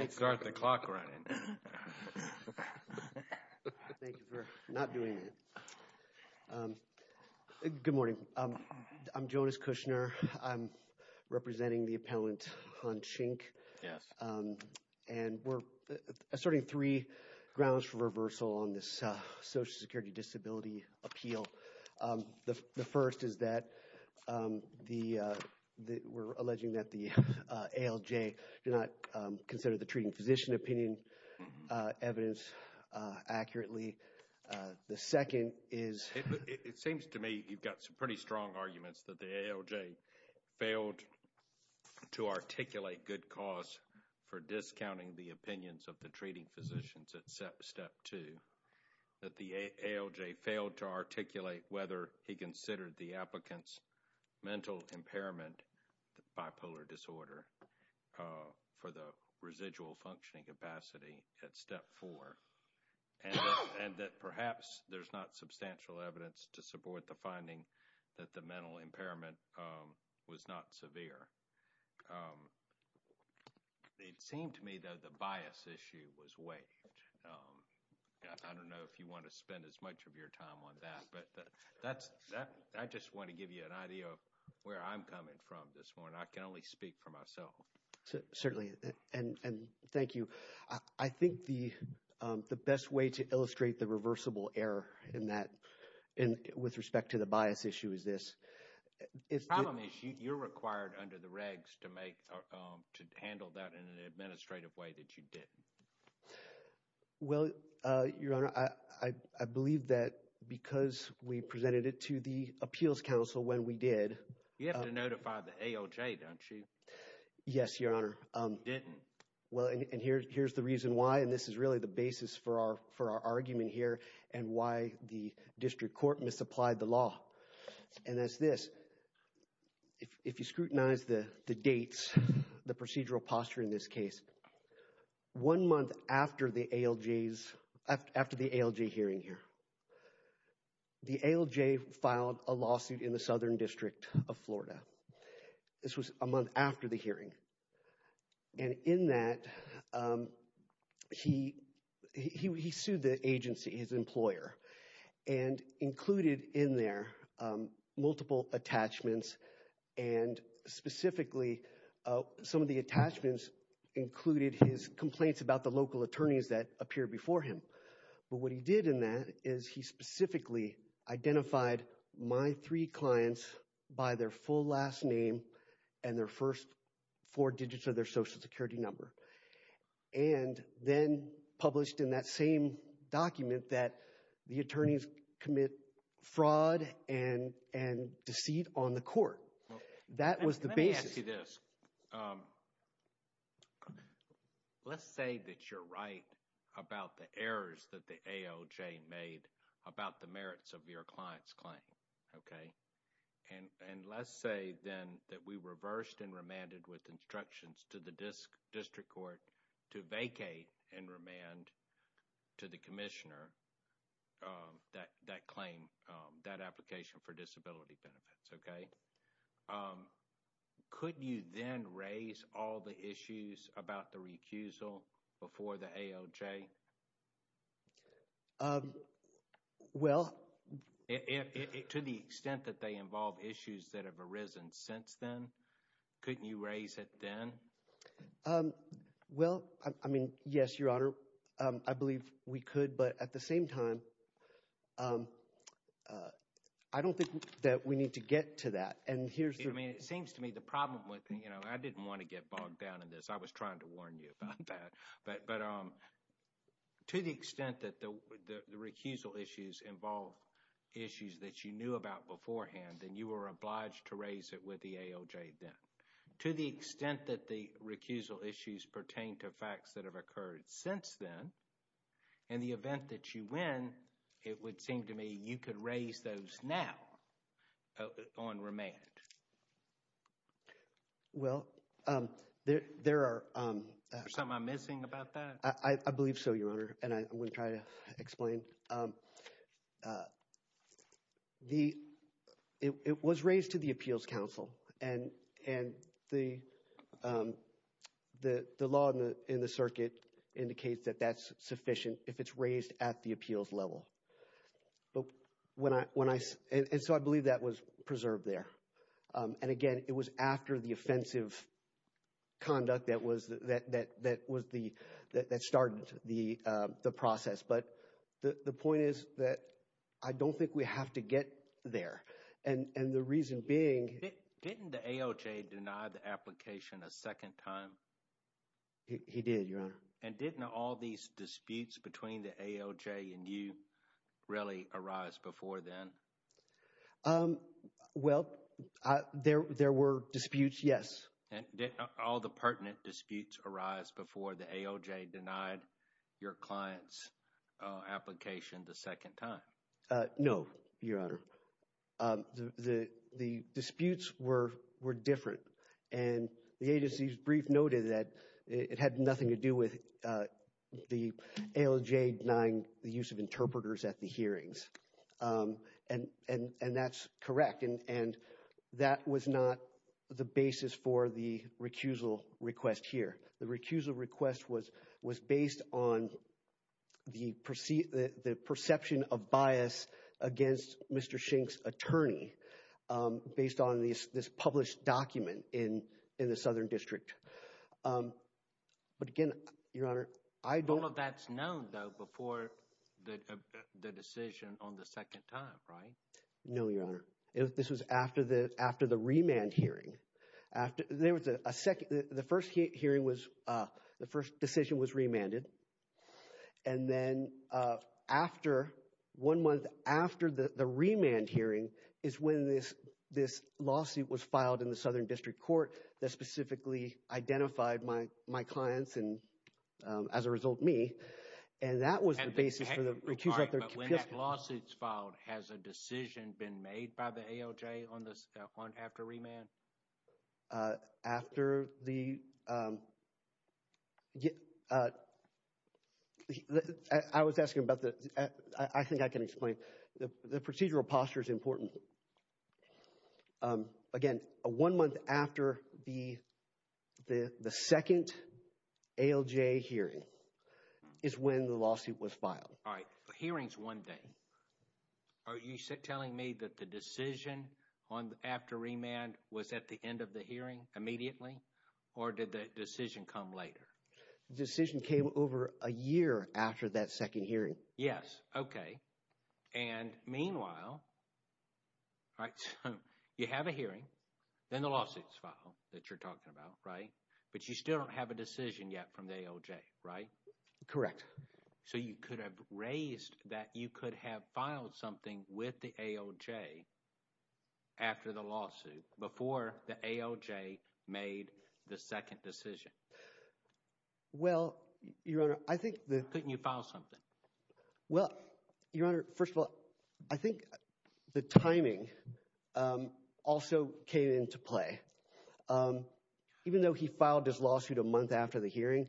Good morning. I'm Jonas Kushner. I'm representing the appellant on Schink. Yes. And we're asserting three grounds for reversal on this Social Security Disability Appeal. The first is that the we're alleging that the ALJ did not consider the treating physician opinion evidence accurately. The second is it seems to me you've got some pretty strong arguments that the ALJ failed to articulate good cause for discounting the opinions of whether he considered the applicant's mental impairment bipolar disorder for the residual functioning capacity at step four and that perhaps there's not substantial evidence to support the finding that the mental impairment was not severe. It seemed to me that the bias issue was way. I don't know if you want to spend as much of your time on that. But that's that. I just want to give you an idea of where I'm coming from this morning. I can only speak for myself. Certainly. And thank you. I think the the best way to illustrate the reversible error in that and with respect to the bias issue is this. It's probably you're required under the regs to make or to handle that in an administrative way that you did. Well, your honor, I believe that because we presented it to the Appeals Council when we did you have to notify the ALJ, don't you? Yes, your honor. Well, and here's the reason why. And this is really the basis for our for our argument here and why the district court misapplied the law. And that's this. If you scrutinize the dates, the procedural posture in this case, one month after the ALJ hearing here, the ALJ filed a lawsuit in the Southern District of Florida. This was a month after the hearing. And in that, he sued the agency, his employer, and included in their multiple attachments and specifically some of the attachments included his complaints about the local attorneys that appear before him. But what he did in that is he specifically identified my three clients by their full last name and their first four digits of their Social Security number. And then published in that same document that the attorneys commit fraud and and deceit on the court. That was the basis. Let me ask you this. Let's say that you're right about the errors that the ALJ made about the merits of your client's claim, okay? And let's say then that we reversed and remanded with instructions to the district court to vacate and remand to the commissioner that claim, that application for disability benefits, okay? Could you then raise all the issues about the recusal before the ALJ? Well, to the extent that they involve issues that have arisen since then, couldn't you raise it then? Well, I mean, yes, Your Honor, I believe we could. But at the same time, I don't think that we need to get to that. And here's the... I mean, it seems to me the problem with, you know, I didn't want to get bogged down in this. I was trying to warn you about that. But to the extent that the recusal issues involve issues that you knew about beforehand and you were obliged to raise it with the ALJ then, to the extent that the recusal issues pertain to facts that have occurred since then, in the event that you win, it would seem to me I believe so, Your Honor, and I would try to explain. It was raised to the appeals council and the law in the circuit indicates that that's sufficient if it's raised at the appeals level. And so I believe that was preserved there. And again, it was after the offensive conduct that that started the process. But the point is that I don't think we have to get there. And the reason being... Didn't the ALJ deny the application a second time? He did, Your Honor. And didn't all these disputes between the ALJ and you really arise before then? Well, there were disputes, yes. And didn't all the pertinent disputes arise before the ALJ denied your client's application the second time? No, Your Honor. The disputes were different. And the agency's brief noted that it had nothing to do with the ALJ denying the use of interpreters at the hearings. And that's correct. And that was not the basis for the recusal request here. The recusal request was based on the perception of bias against Mr. Schenck's attorney based on this published document in the Southern District. But again, Your Honor, I don't... All of that's known, though, for the decision on the second time, right? No, Your Honor. This was after the remand hearing. The first hearing was... The first decision was remanded. And then one month after the remand hearing is when this lawsuit was filed in the Southern District Court that specifically identified my clients and, as a result, me. And that was the basis for the recusal. But when that lawsuit's filed, has a decision been made by the ALJ on this one after remand? After the... I was asking about the... I think I can explain. The procedural posture is important. Again, one month after the second ALJ hearing is when the lawsuit was filed. All right. Hearings one day. Are you telling me that the decision after remand was at the end of the hearing immediately or did the decision come later? The decision came over a year after that second hearing. Yes. Okay. And meanwhile... All right. So you have a hearing, then the lawsuit's filed that you're talking about, right? But you still don't have a decision yet from the ALJ, right? Correct. So you could have raised that you could have filed something with the ALJ after the lawsuit before the ALJ made the second decision. Well, Your Honor, I think that... Couldn't you file something? Well, Your Honor, first of all, I think the timing also came into play. Even though he filed his lawsuit a month after the hearing,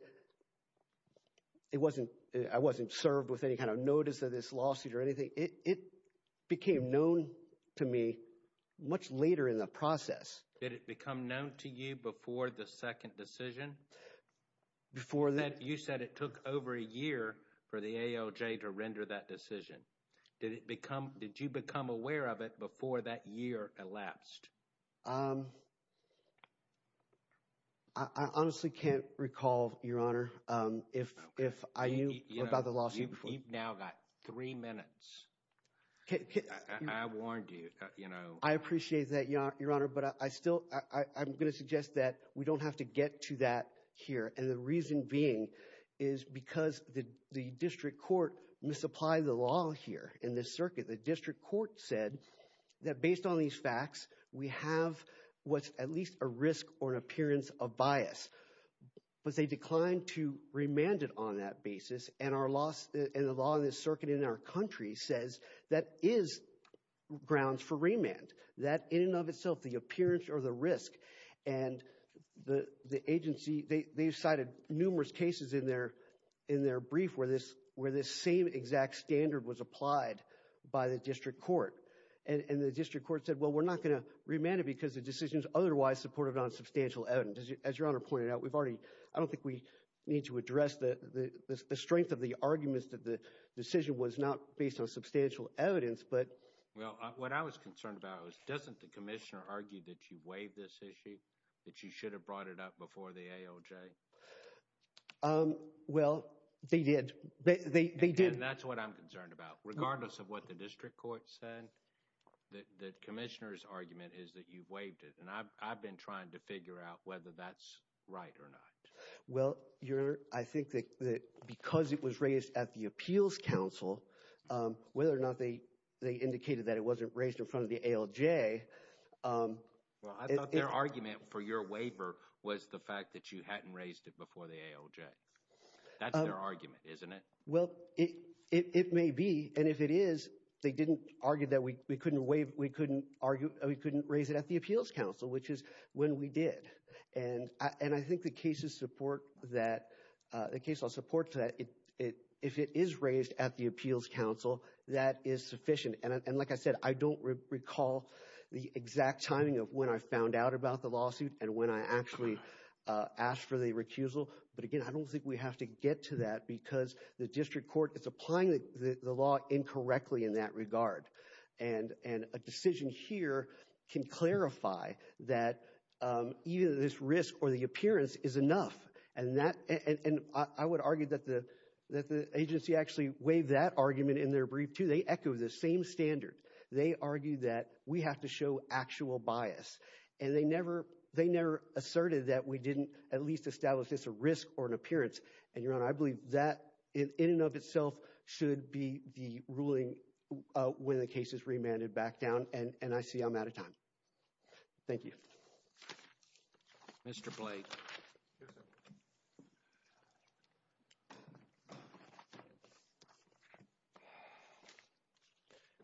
it wasn't... I wasn't served with any kind of notice of this lawsuit or anything. It became known to me much later in the process. Did it become known to you before the second decision? Before that... Did you become aware of it before that year elapsed? I honestly can't recall, Your Honor, if I knew about the lawsuit before. You've now got three minutes. I warned you. I appreciate that, Your Honor, but I'm going to suggest that we don't have to get to that here. And the reason being is because the district court misapplied the law here in this circuit. The district court said that based on these facts, we have what's at least a risk or an appearance of bias. But they declined to remand it on that basis. And the law in this circuit in our country says that is grounds for remand. That in and of itself, the appearance or the risk. And the agency, they cited numerous cases in their brief where this same exact standard was applied by the district court. And the district court said, well, we're not going to remand it because the decision is otherwise supportive of non-substantial evidence. As Your Honor pointed out, we've already... I don't think we need to address the strength of the arguments that the decision was not based on substantial evidence, but... What I was concerned about was, doesn't the commissioner argue that you waived this issue, that you should have brought it up before the AOJ? Well, they did. They did. And that's what I'm concerned about. Regardless of what the district court said, the commissioner's argument is that you waived it. And I've been trying to figure out whether that's right or not. Well, Your Honor, I think that because it was raised at the appeals council, whether or not they indicated that it wasn't raised in front of the AOJ... Well, I thought their argument for your waiver was the fact that you hadn't raised it before the AOJ. That's their argument, isn't it? Well, it may be. And if it is, they didn't argue that we couldn't raise it at the appeals council, which is when we did. And I think the that is sufficient. And like I said, I don't recall the exact timing of when I found out about the lawsuit and when I actually asked for the recusal. But again, I don't think we have to get to that because the district court is applying the law incorrectly in that regard. And a decision here can clarify that either this risk or the appearance is enough. And I would argue that the they echo the same standard. They argue that we have to show actual bias. And they never asserted that we didn't at least establish this risk or an appearance. And Your Honor, I believe that in and of itself should be the ruling when the case is remanded back down. And I see I'm out of time. Thank you. Mr. Blake.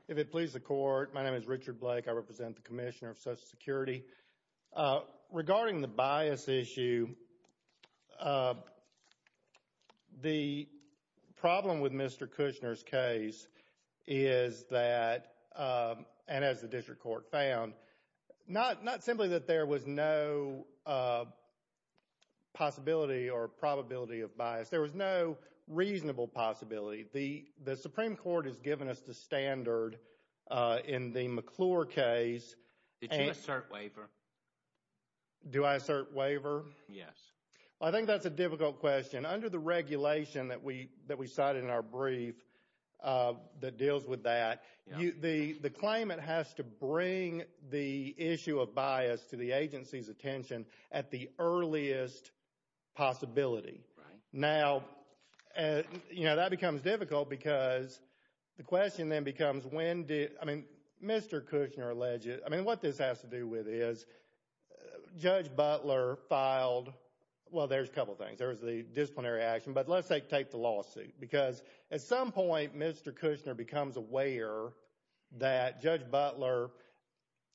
If it pleases the court, my name is Richard Blake. I represent the Commissioner of Social Security. Regarding the bias issue, the problem with Mr. Kushner's case is that, and as the district court found, not simply that there was no possibility or probability of bias. There was no reasonable possibility. The Supreme Court has given us the standard in the McClure case. Did you assert waiver? Do I assert waiver? Yes. Well, I think that's a difficult question. Under the regulation that we cited in our brief that deals with that, the claimant has to bring the issue of bias to the agency's attention at the earliest possibility. Now, you know, that becomes difficult because the question then becomes when did, I mean, Mr. Kushner alleged, I mean, what this has to do with is Judge Butler filed, well, there's a couple of things. There was the disciplinary action, but let's take the lawsuit. Because at some point, Mr. Kushner becomes aware that Judge Butler,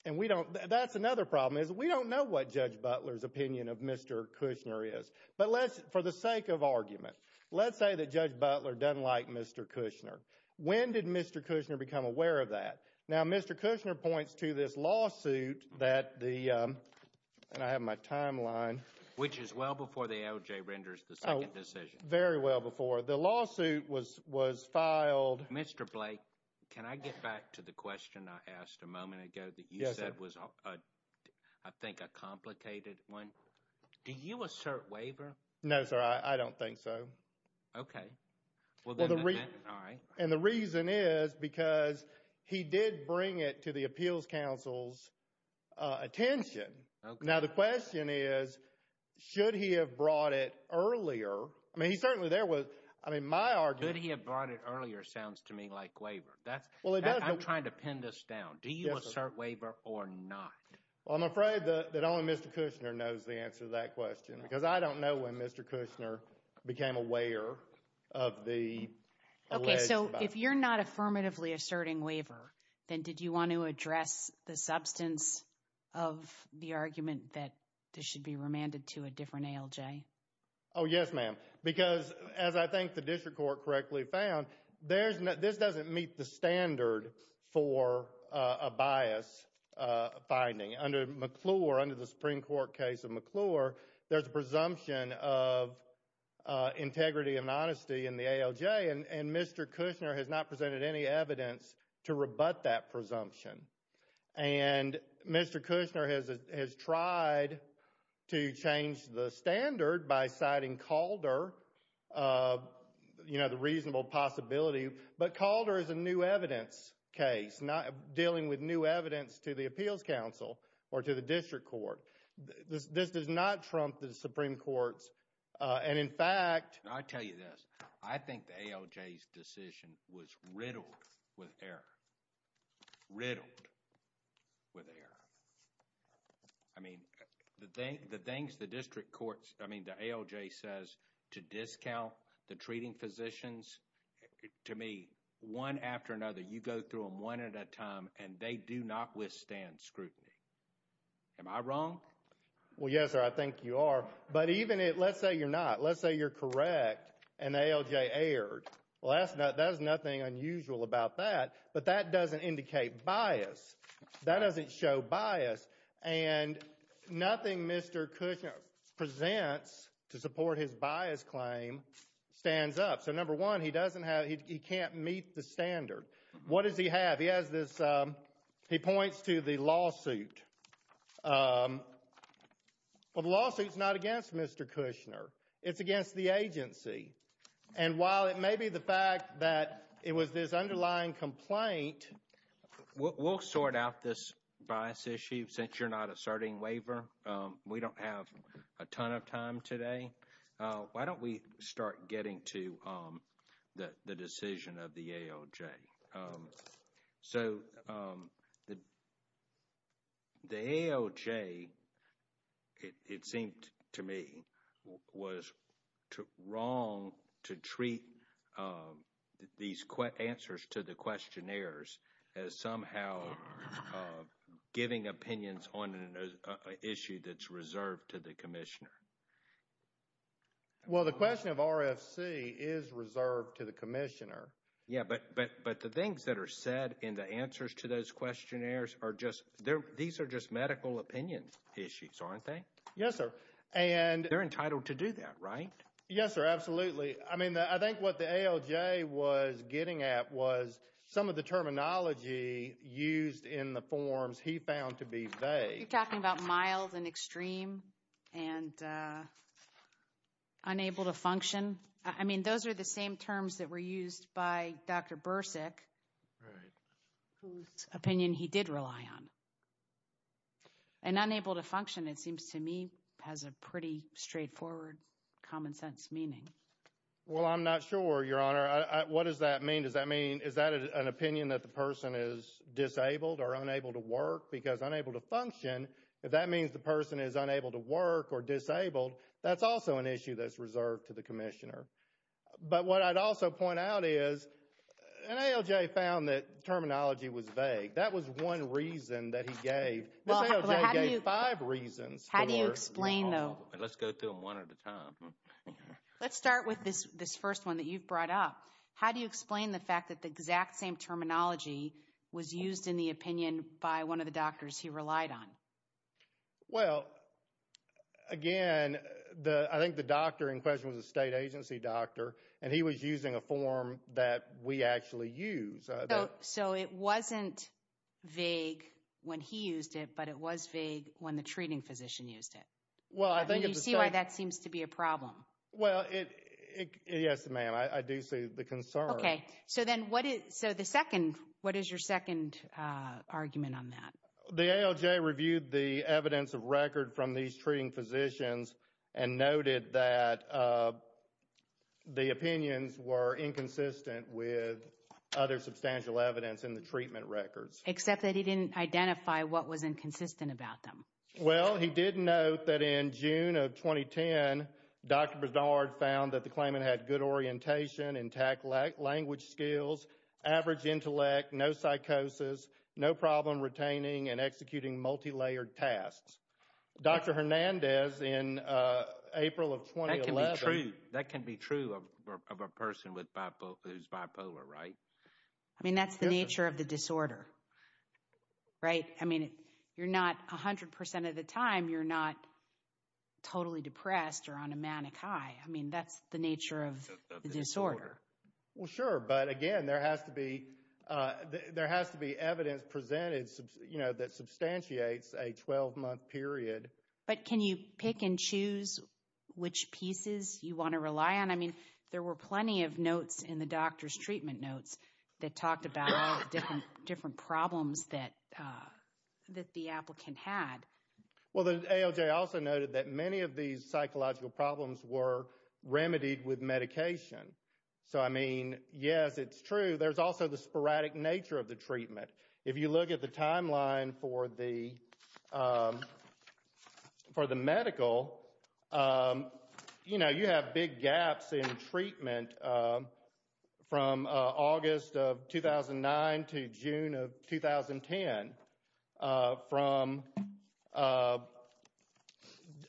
and we don't, that's another problem, is we don't know what Judge Butler's opinion of Mr. Kushner is. But let's, for the sake of argument, let's say that Judge Butler doesn't like Mr. Kushner. When did Mr. Kushner become aware of that? Now, Mr. Kushner points to this lawsuit that the, and I have my timeline. Which is well before the LJ renders the second decision. Very well before. The lawsuit was filed. Mr. Blake, can I get back to the question I asked a moment ago that you said was, I think, a complicated one? Do you assert waiver? No, sir, I don't think so. Okay. Well, the reason, and the reason is because he did bring it to the appeals council's attention. Now, the question is, should he have brought it earlier? I mean, he certainly, there was, I mean, my argument. Could he have brought it earlier sounds to me like waiver. That's, I'm trying to pin this down. Do you assert waiver or not? Well, I'm afraid that only Mr. Kushner knows the answer to that question. Because I don't know when Mr. Kushner became aware of the alleged- Okay, so if you're not affirmatively asserting waiver, then did you want to address the substance of the argument that this should be remanded to a different ALJ? Oh, yes, ma'am. Because as I think the district court correctly found, there's, this doesn't meet the standard for a bias finding. Under McClure, under the Supreme Integrity and Honesty in the ALJ, and Mr. Kushner has not presented any evidence to rebut that presumption. And Mr. Kushner has tried to change the standard by citing Calder, you know, the reasonable possibility. But Calder is a new evidence case, not dealing with new evidence to the appeals council or to the district court. This does not trump the Supreme Court's decision. And in fact- I tell you this, I think the ALJ's decision was riddled with error. Riddled with error. I mean, the things the district courts, I mean, the ALJ says to discount the treating physicians, to me, one after another, you go through them one at a time and they do not withstand scrutiny. Am I wrong? Well, yes, sir, I think you are. But even if, let's say you're not. Let's say you're correct and the ALJ erred. Well, that's nothing unusual about that. But that doesn't indicate bias. That doesn't show bias. And nothing Mr. Kushner presents to support his bias claim stands up. So, number one, he doesn't have, he can't meet the standard. What does he have? He has this, he points to the lawsuit. But the lawsuit's not against Mr. Kushner. It's against the agency. And while it may be the fact that it was this underlying complaint- We'll sort out this bias issue since you're not asserting waiver. We don't have a ton of time today. Why don't we start getting to the decision of the ALJ? So, the ALJ, it seemed to me, was wrong to treat these answers to the questionnaires as somehow giving opinions on an issue that's reserved to the commissioner. Well, the question of RFC is reserved to the commissioner. Yeah, but the things that are said in the answers to those questionnaires are just, these are just medical opinion issues, aren't they? Yes, sir. And- They're entitled to do that, right? Yes, sir. Absolutely. I mean, I think what the ALJ was getting at was some of the terminology used in the forms he found to be vague. You're talking about mild and extreme and unable to function. I mean, those are the same terms that were used by Dr. Bursick, whose opinion he did rely on. And unable to function, it seems to me, has a pretty straightforward, common sense meaning. Well, I'm not sure, Your Honor. What does that mean? Does that mean, is that an opinion that person is disabled or unable to work? Because unable to function, if that means the person is unable to work or disabled, that's also an issue that's reserved to the commissioner. But what I'd also point out is, an ALJ found that terminology was vague. That was one reason that he gave. This ALJ gave five reasons for- How do you explain, though? Let's go through them one at a time. Let's start with this first one that you've brought up. How do you explain the fact that exact same terminology was used in the opinion by one of the doctors he relied on? Well, again, I think the doctor in question was a state agency doctor, and he was using a form that we actually use. So it wasn't vague when he used it, but it was vague when the treating physician used it? Well, I think it's- Do you see why that seems to be a problem? Well, yes, ma'am. I do see the concern. Okay. So then what is your second argument on that? The ALJ reviewed the evidence of record from these treating physicians and noted that the opinions were inconsistent with other substantial evidence in the treatment records. Except that he didn't identify what was inconsistent about them. Well, he did note that in June of 2010, Dr. Berdard found that the claimant had good orientation, intact language skills, average intellect, no psychosis, no problem retaining and executing multilayered tasks. Dr. Hernandez in April of 2011- That can be true of a person who's bipolar, right? I mean, that's the nature of the disorder, right? I mean, you're not 100% of the time, you're not totally depressed or on a manic high. I mean, that's the nature of the disorder. Well, sure. But again, there has to be evidence presented that substantiates a 12-month period. But can you pick and choose which pieces you want to rely on? I mean, there were plenty of notes in the doctor's treatment notes that talked about different problems that the applicant had. Well, the ALJ also noted that many of these psychological problems were remedied with medication. So, I mean, yes, it's true. There's also the sporadic nature of the treatment. If you look at the timeline for the medical, you know, you have big gaps in treatment from August of 2009 to June of 2010, from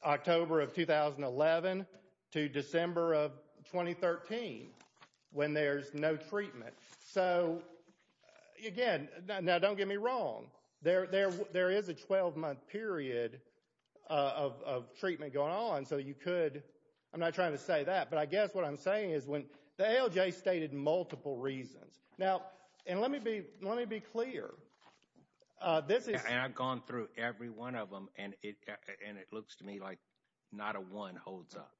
October of 2011 to December of 2013 when there's no treatment. So, again, now don't get me wrong. There is a 12-month period of treatment going on. So, you could, I'm not trying to say that. But I guess what I'm saying is when the ALJ stated multiple reasons. Now, and let me be clear. And I've gone through every one of them and it looks to me like not a one holds up.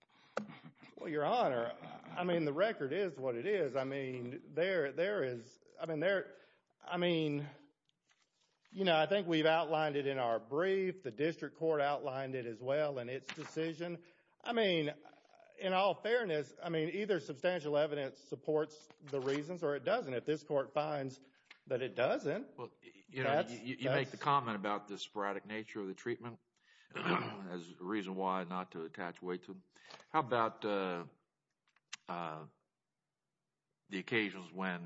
Well, Your Honor, I mean, the record is what it is. I mean, there is, I mean, there, I mean, you know, I think we've outlined it in our brief. The district court outlined it as well in its decision. I mean, in all fairness, I mean, either substantial evidence supports the reasons or it doesn't. If this court finds that it doesn't. Well, you know, you make the comment about the sporadic nature of the treatment as a reason why not to attach weight to it. How about the occasions when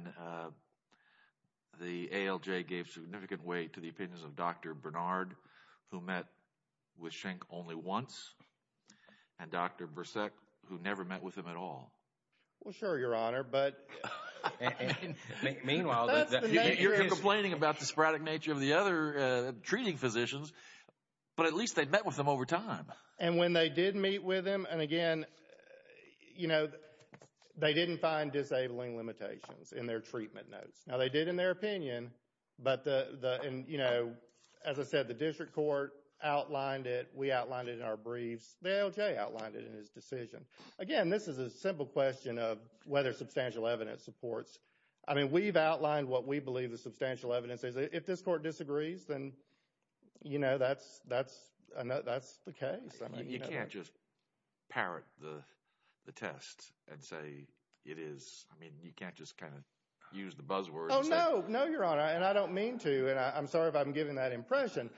the ALJ gave significant weight to the opinions of Dr. Bernard who met with Schenck only once and Dr. Brissek who never met with him at all? Well, sure, Your Honor. But meanwhile, you're complaining about the sporadic nature of the other treating physicians, but at least they met with them over time. And when they did meet with them, and again, you know, they didn't find disabling limitations in their treatment notes. Now, they did in their opinion, but the, you know, as I said, the district court outlined it. We outlined it in our briefs. The ALJ outlined it in his decision. Again, this is a simple question of whether substantial evidence supports. I mean, we've outlined what we believe the substantial evidence is. If this court disagrees, then, you know, that's the case. You can't just parrot the test and say it is. I mean, you can't just kind of use the buzzword. Oh, no. No, Your Honor. And I don't mean to. And I'm sorry if I'm giving that impression.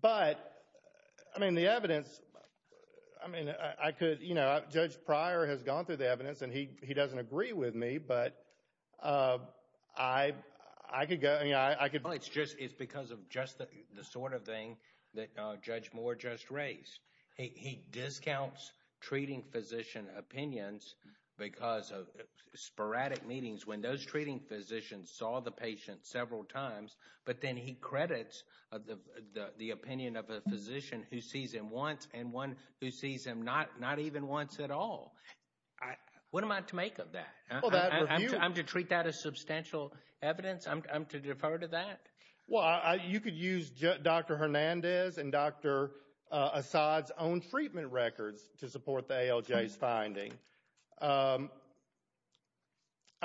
But I mean, the evidence, I mean, I could, you know, Judge Pryor has gone through the evidence and he doesn't agree with me. But I could go, you know, I could. It's because of just the sort of thing that Judge Moore just raised. He discounts treating physician opinions because of sporadic meetings when those treating physicians saw the patient several times. But then he credits the opinion of a physician who sees him once and one who sees him not even once at all. What am I to make of that? I'm to treat that as substantial evidence? I'm to defer to that? Well, you could use Dr. Hernandez and Dr. Asad's own treatment records to support the ALJ's finding. I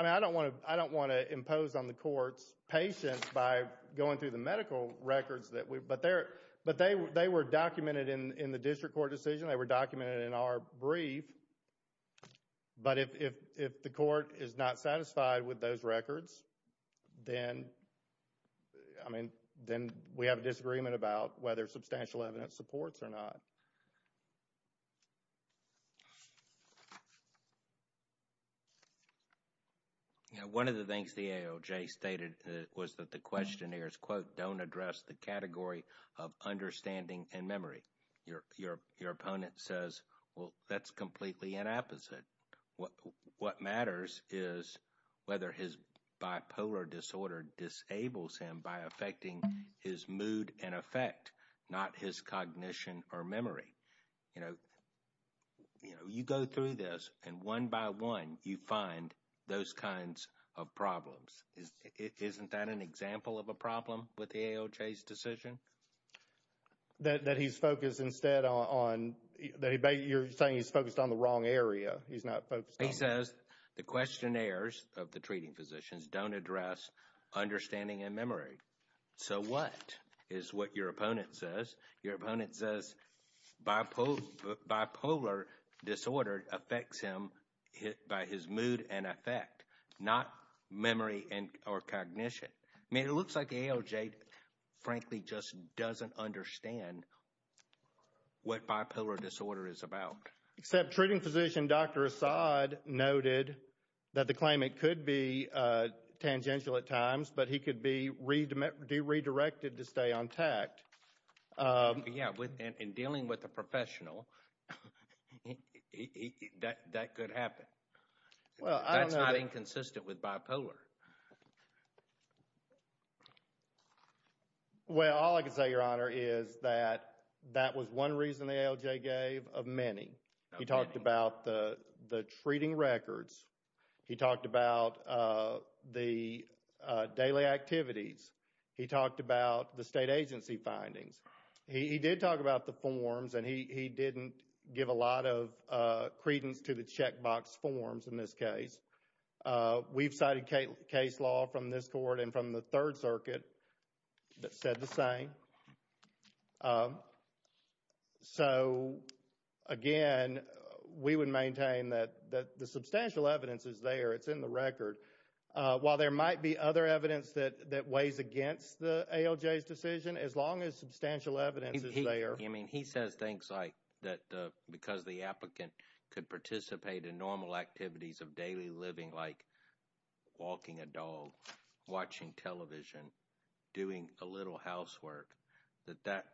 mean, I don't want to impose on the court's patients by going through the medical records. But they were documented in the district court decision. They were documented in our brief. But if the court is not satisfied with those records, then, I mean, then we have a disagreement about whether substantial evidence supports or not. You know, one of the things the ALJ stated was that the questionnaires, quote, don't address the category of understanding and memory. Your opponent says, well, that's completely an opposite. What matters is whether his bipolar disorder disables him by affecting his mood and affect, not his cognition or memory. You know, you go through this and one by one, you find those kinds of problems. Isn't that an example of a problem with the ALJ's decision? That he's focused instead on, you're saying he's focused on the wrong area. He says the questionnaires of the treating physicians don't address understanding and memory. So what is what your opponent says? Your opponent says bipolar disorder affects him by his mood and affect, not memory or cognition. I mean, it looks like the ALJ, frankly, just doesn't understand what bipolar disorder is about. Except treating physician Dr. Asad noted that the claim, it could be tangential at times, but he could be redirected to stay on tact. Yeah, in dealing with a professional, that could happen. Well, I don't know. That's not inconsistent with bipolar. Well, all I can say, Your Honor, is that that was one reason the ALJ gave of many. He talked about the treating records. He talked about the daily activities. He talked about the state agency findings. He did talk about the forms and he didn't give a lot of credence to the checkbox forms in this case. We've cited case law from this court and from the Third Circuit that said the same. So, again, we would maintain that the substantial evidence is there. It's in the record. While there might be other evidence that weighs against the ALJ's decision, as long as substantial evidence is there. I mean, he says things like that because the applicant could participate in normal activities of daily living, like walking a dog, watching television, doing a little housework, that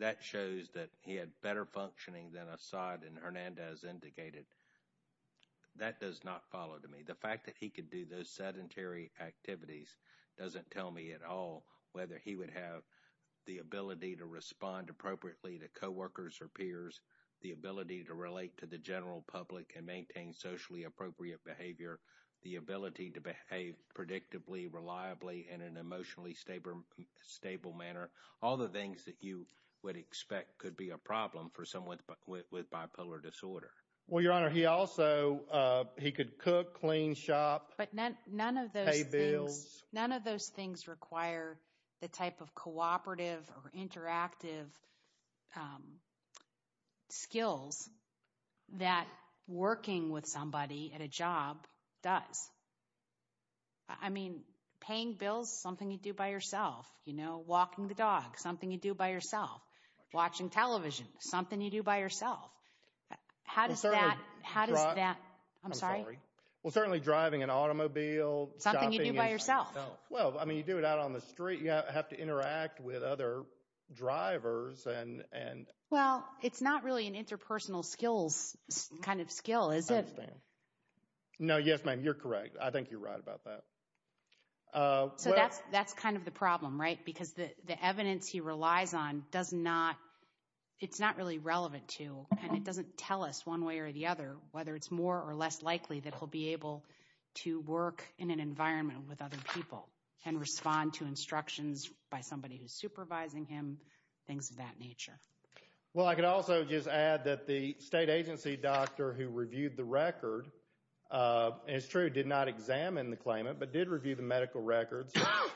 that shows that he had better functioning than Assad and Hernandez indicated. That does not follow to me. The fact that he could do those sedentary activities doesn't tell me at all whether he would have the ability to respond appropriately to coworkers or peers, the ability to relate to the general public and maintain socially appropriate behavior, the ability to behave predictably, reliably, and in an emotionally stable manner. All the things that you would expect could be a problem for someone with bipolar disorder. Well, Your Honor, he also, he could cook, clean, shop, pay bills. None of those things require the type of cooperative or interactive skills that working with somebody at a job does. I mean, paying bills, something you do by yourself. You know, walking the dog, something you do by yourself. Watching television, something you do by yourself. How does that, how does that? I'm sorry. Well, certainly driving an automobile. Something you do by yourself. Well, I mean, you do it out on the street. Have to interact with other drivers. Well, it's not really an interpersonal skills kind of skill, is it? I understand. No, yes, ma'am. You're correct. I think you're right about that. So that's kind of the problem, right? Because the evidence he relies on does not, it's not really relevant to, and it doesn't tell us one way or the other whether it's more or less likely that he'll be able to work in an environment with other people and respond to instructions by somebody who's supervising him, things of that nature. Well, I could also just add that the state agency doctor who reviewed the record, and it's true, did not examine the claimant, but did review the medical records,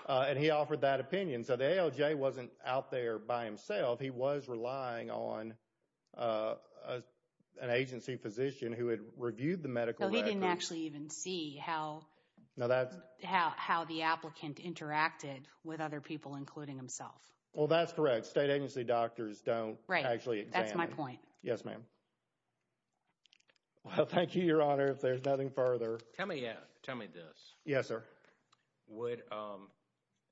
and he offered that opinion. So the ALJ wasn't out there by himself. He was relying on an agency physician who had reviewed the medical records. You can't actually even see how the applicant interacted with other people, including himself. Well, that's correct. State agency doctors don't actually examine. Right. That's my point. Yes, ma'am. Well, thank you, Your Honor. If there's nothing further. Tell me this. Yes, sir.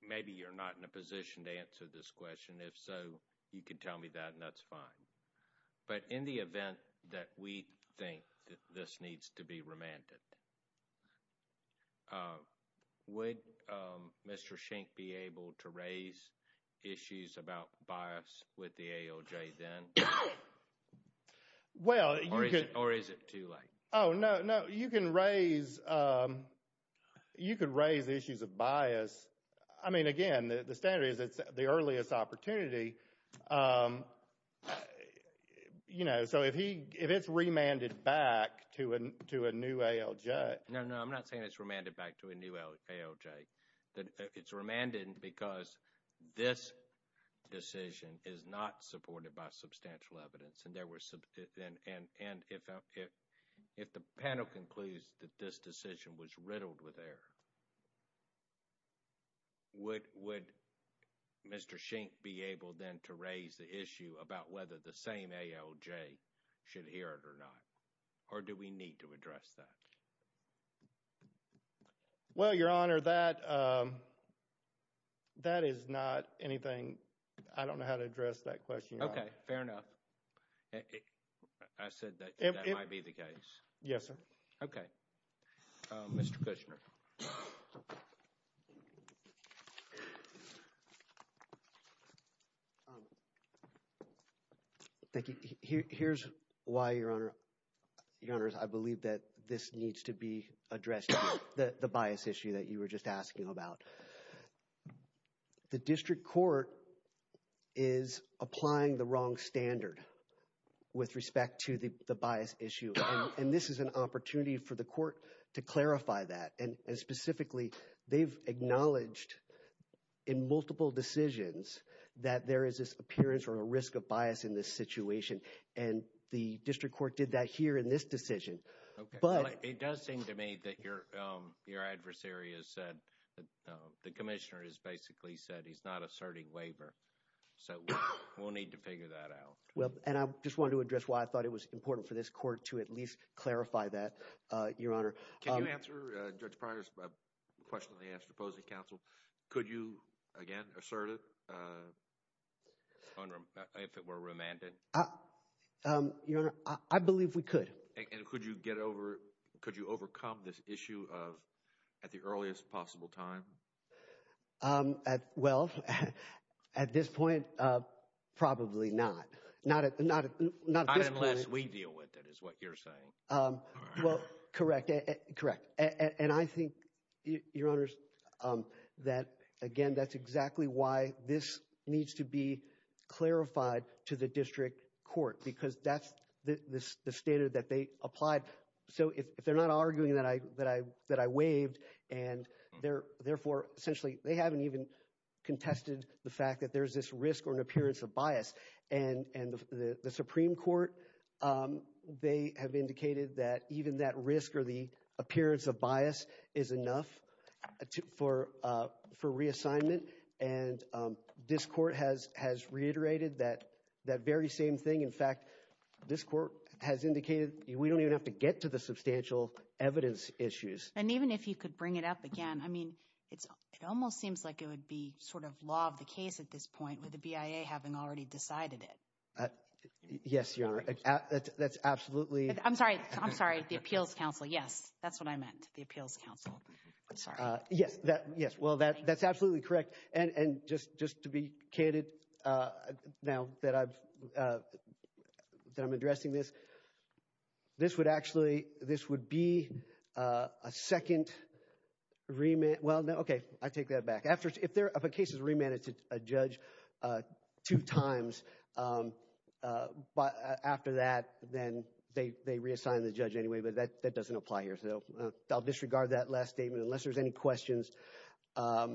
Maybe you're not in a position to answer this question. If so, you can tell me that, and that's fine. But in the event that we think that this needs to be remanded, would Mr. Schenck be able to raise issues about bias with the ALJ then? Well, or is it too late? Oh, no, no. You can raise issues of bias. I mean, again, the standard is it's the earliest opportunity. You know, so if it's remanded back to a new ALJ. No, no. I'm not saying it's remanded back to a new ALJ. It's remanded because this decision is not supported by substantial evidence. And if the panel concludes that this decision was riddled with error, would Mr. Schenck be able then to raise the issue about whether the same ALJ should hear it or not? Or do we need to address that? Well, Your Honor, that is not anything. I don't know how to address that question, Your Honor. Okay, fair enough. I said that might be the case. Yes, sir. Okay, Mr. Kushner. Thank you. Here's why, Your Honor. Your Honors, I believe that this needs to be addressed, the bias issue that you were just asking about. The district court is applying the wrong standard with respect to the bias issue. And this is an opportunity for the court to clarify that. And specifically, they've acknowledged in multiple decisions that there is this appearance or a risk of bias in this situation. And the district court did that here in this decision. It does seem to me that your adversary has said, the commissioner has basically said he's not asserting waiver. So we'll need to figure that out. Well, and I just wanted to address why I thought it was important for this court to at least clarify that, Your Honor. Can you answer Judge Pryor's question in the answer to opposing counsel? Could you, again, assert it if it were remanded? Your Honor, I believe we could. And could you get over, could you overcome this issue at the earliest possible time? Well, at this point, probably not. Not unless we deal with it, is what you're saying. Well, correct, correct. And I think, Your Honors, that, again, that's exactly why this needs to be clarified to the district court, because that's the standard that they applied. So if they're not arguing that I waived, and therefore, essentially, they haven't even contested the fact that there's this risk or an appearance of bias. And the Supreme Court, they have indicated that even that risk or the appearance of bias is enough for reassignment. And this court has reiterated that very same thing. In fact, this court has indicated we don't even have to get to the substantial evidence issues. And even if you could bring it up again, I mean, it almost seems like it would be sort of law of the case at this point with the BIA having already decided it. Yes, Your Honor. That's absolutely. I'm sorry. I'm sorry. The Appeals Council. Yes, that's what I meant. The Appeals Council. I'm sorry. Yes, yes. Well, that's absolutely correct. And just to be candid now that I'm addressing this, this would actually, this would be a second remit. Well, okay. I take that back. If a case is remanded to a judge two times after that, then they reassign the judge anyway. But that doesn't apply here. So I'll disregard that last statement. Unless there's any questions, I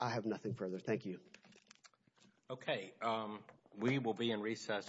have nothing further. Thank you. Okay. We will be in recess until tomorrow.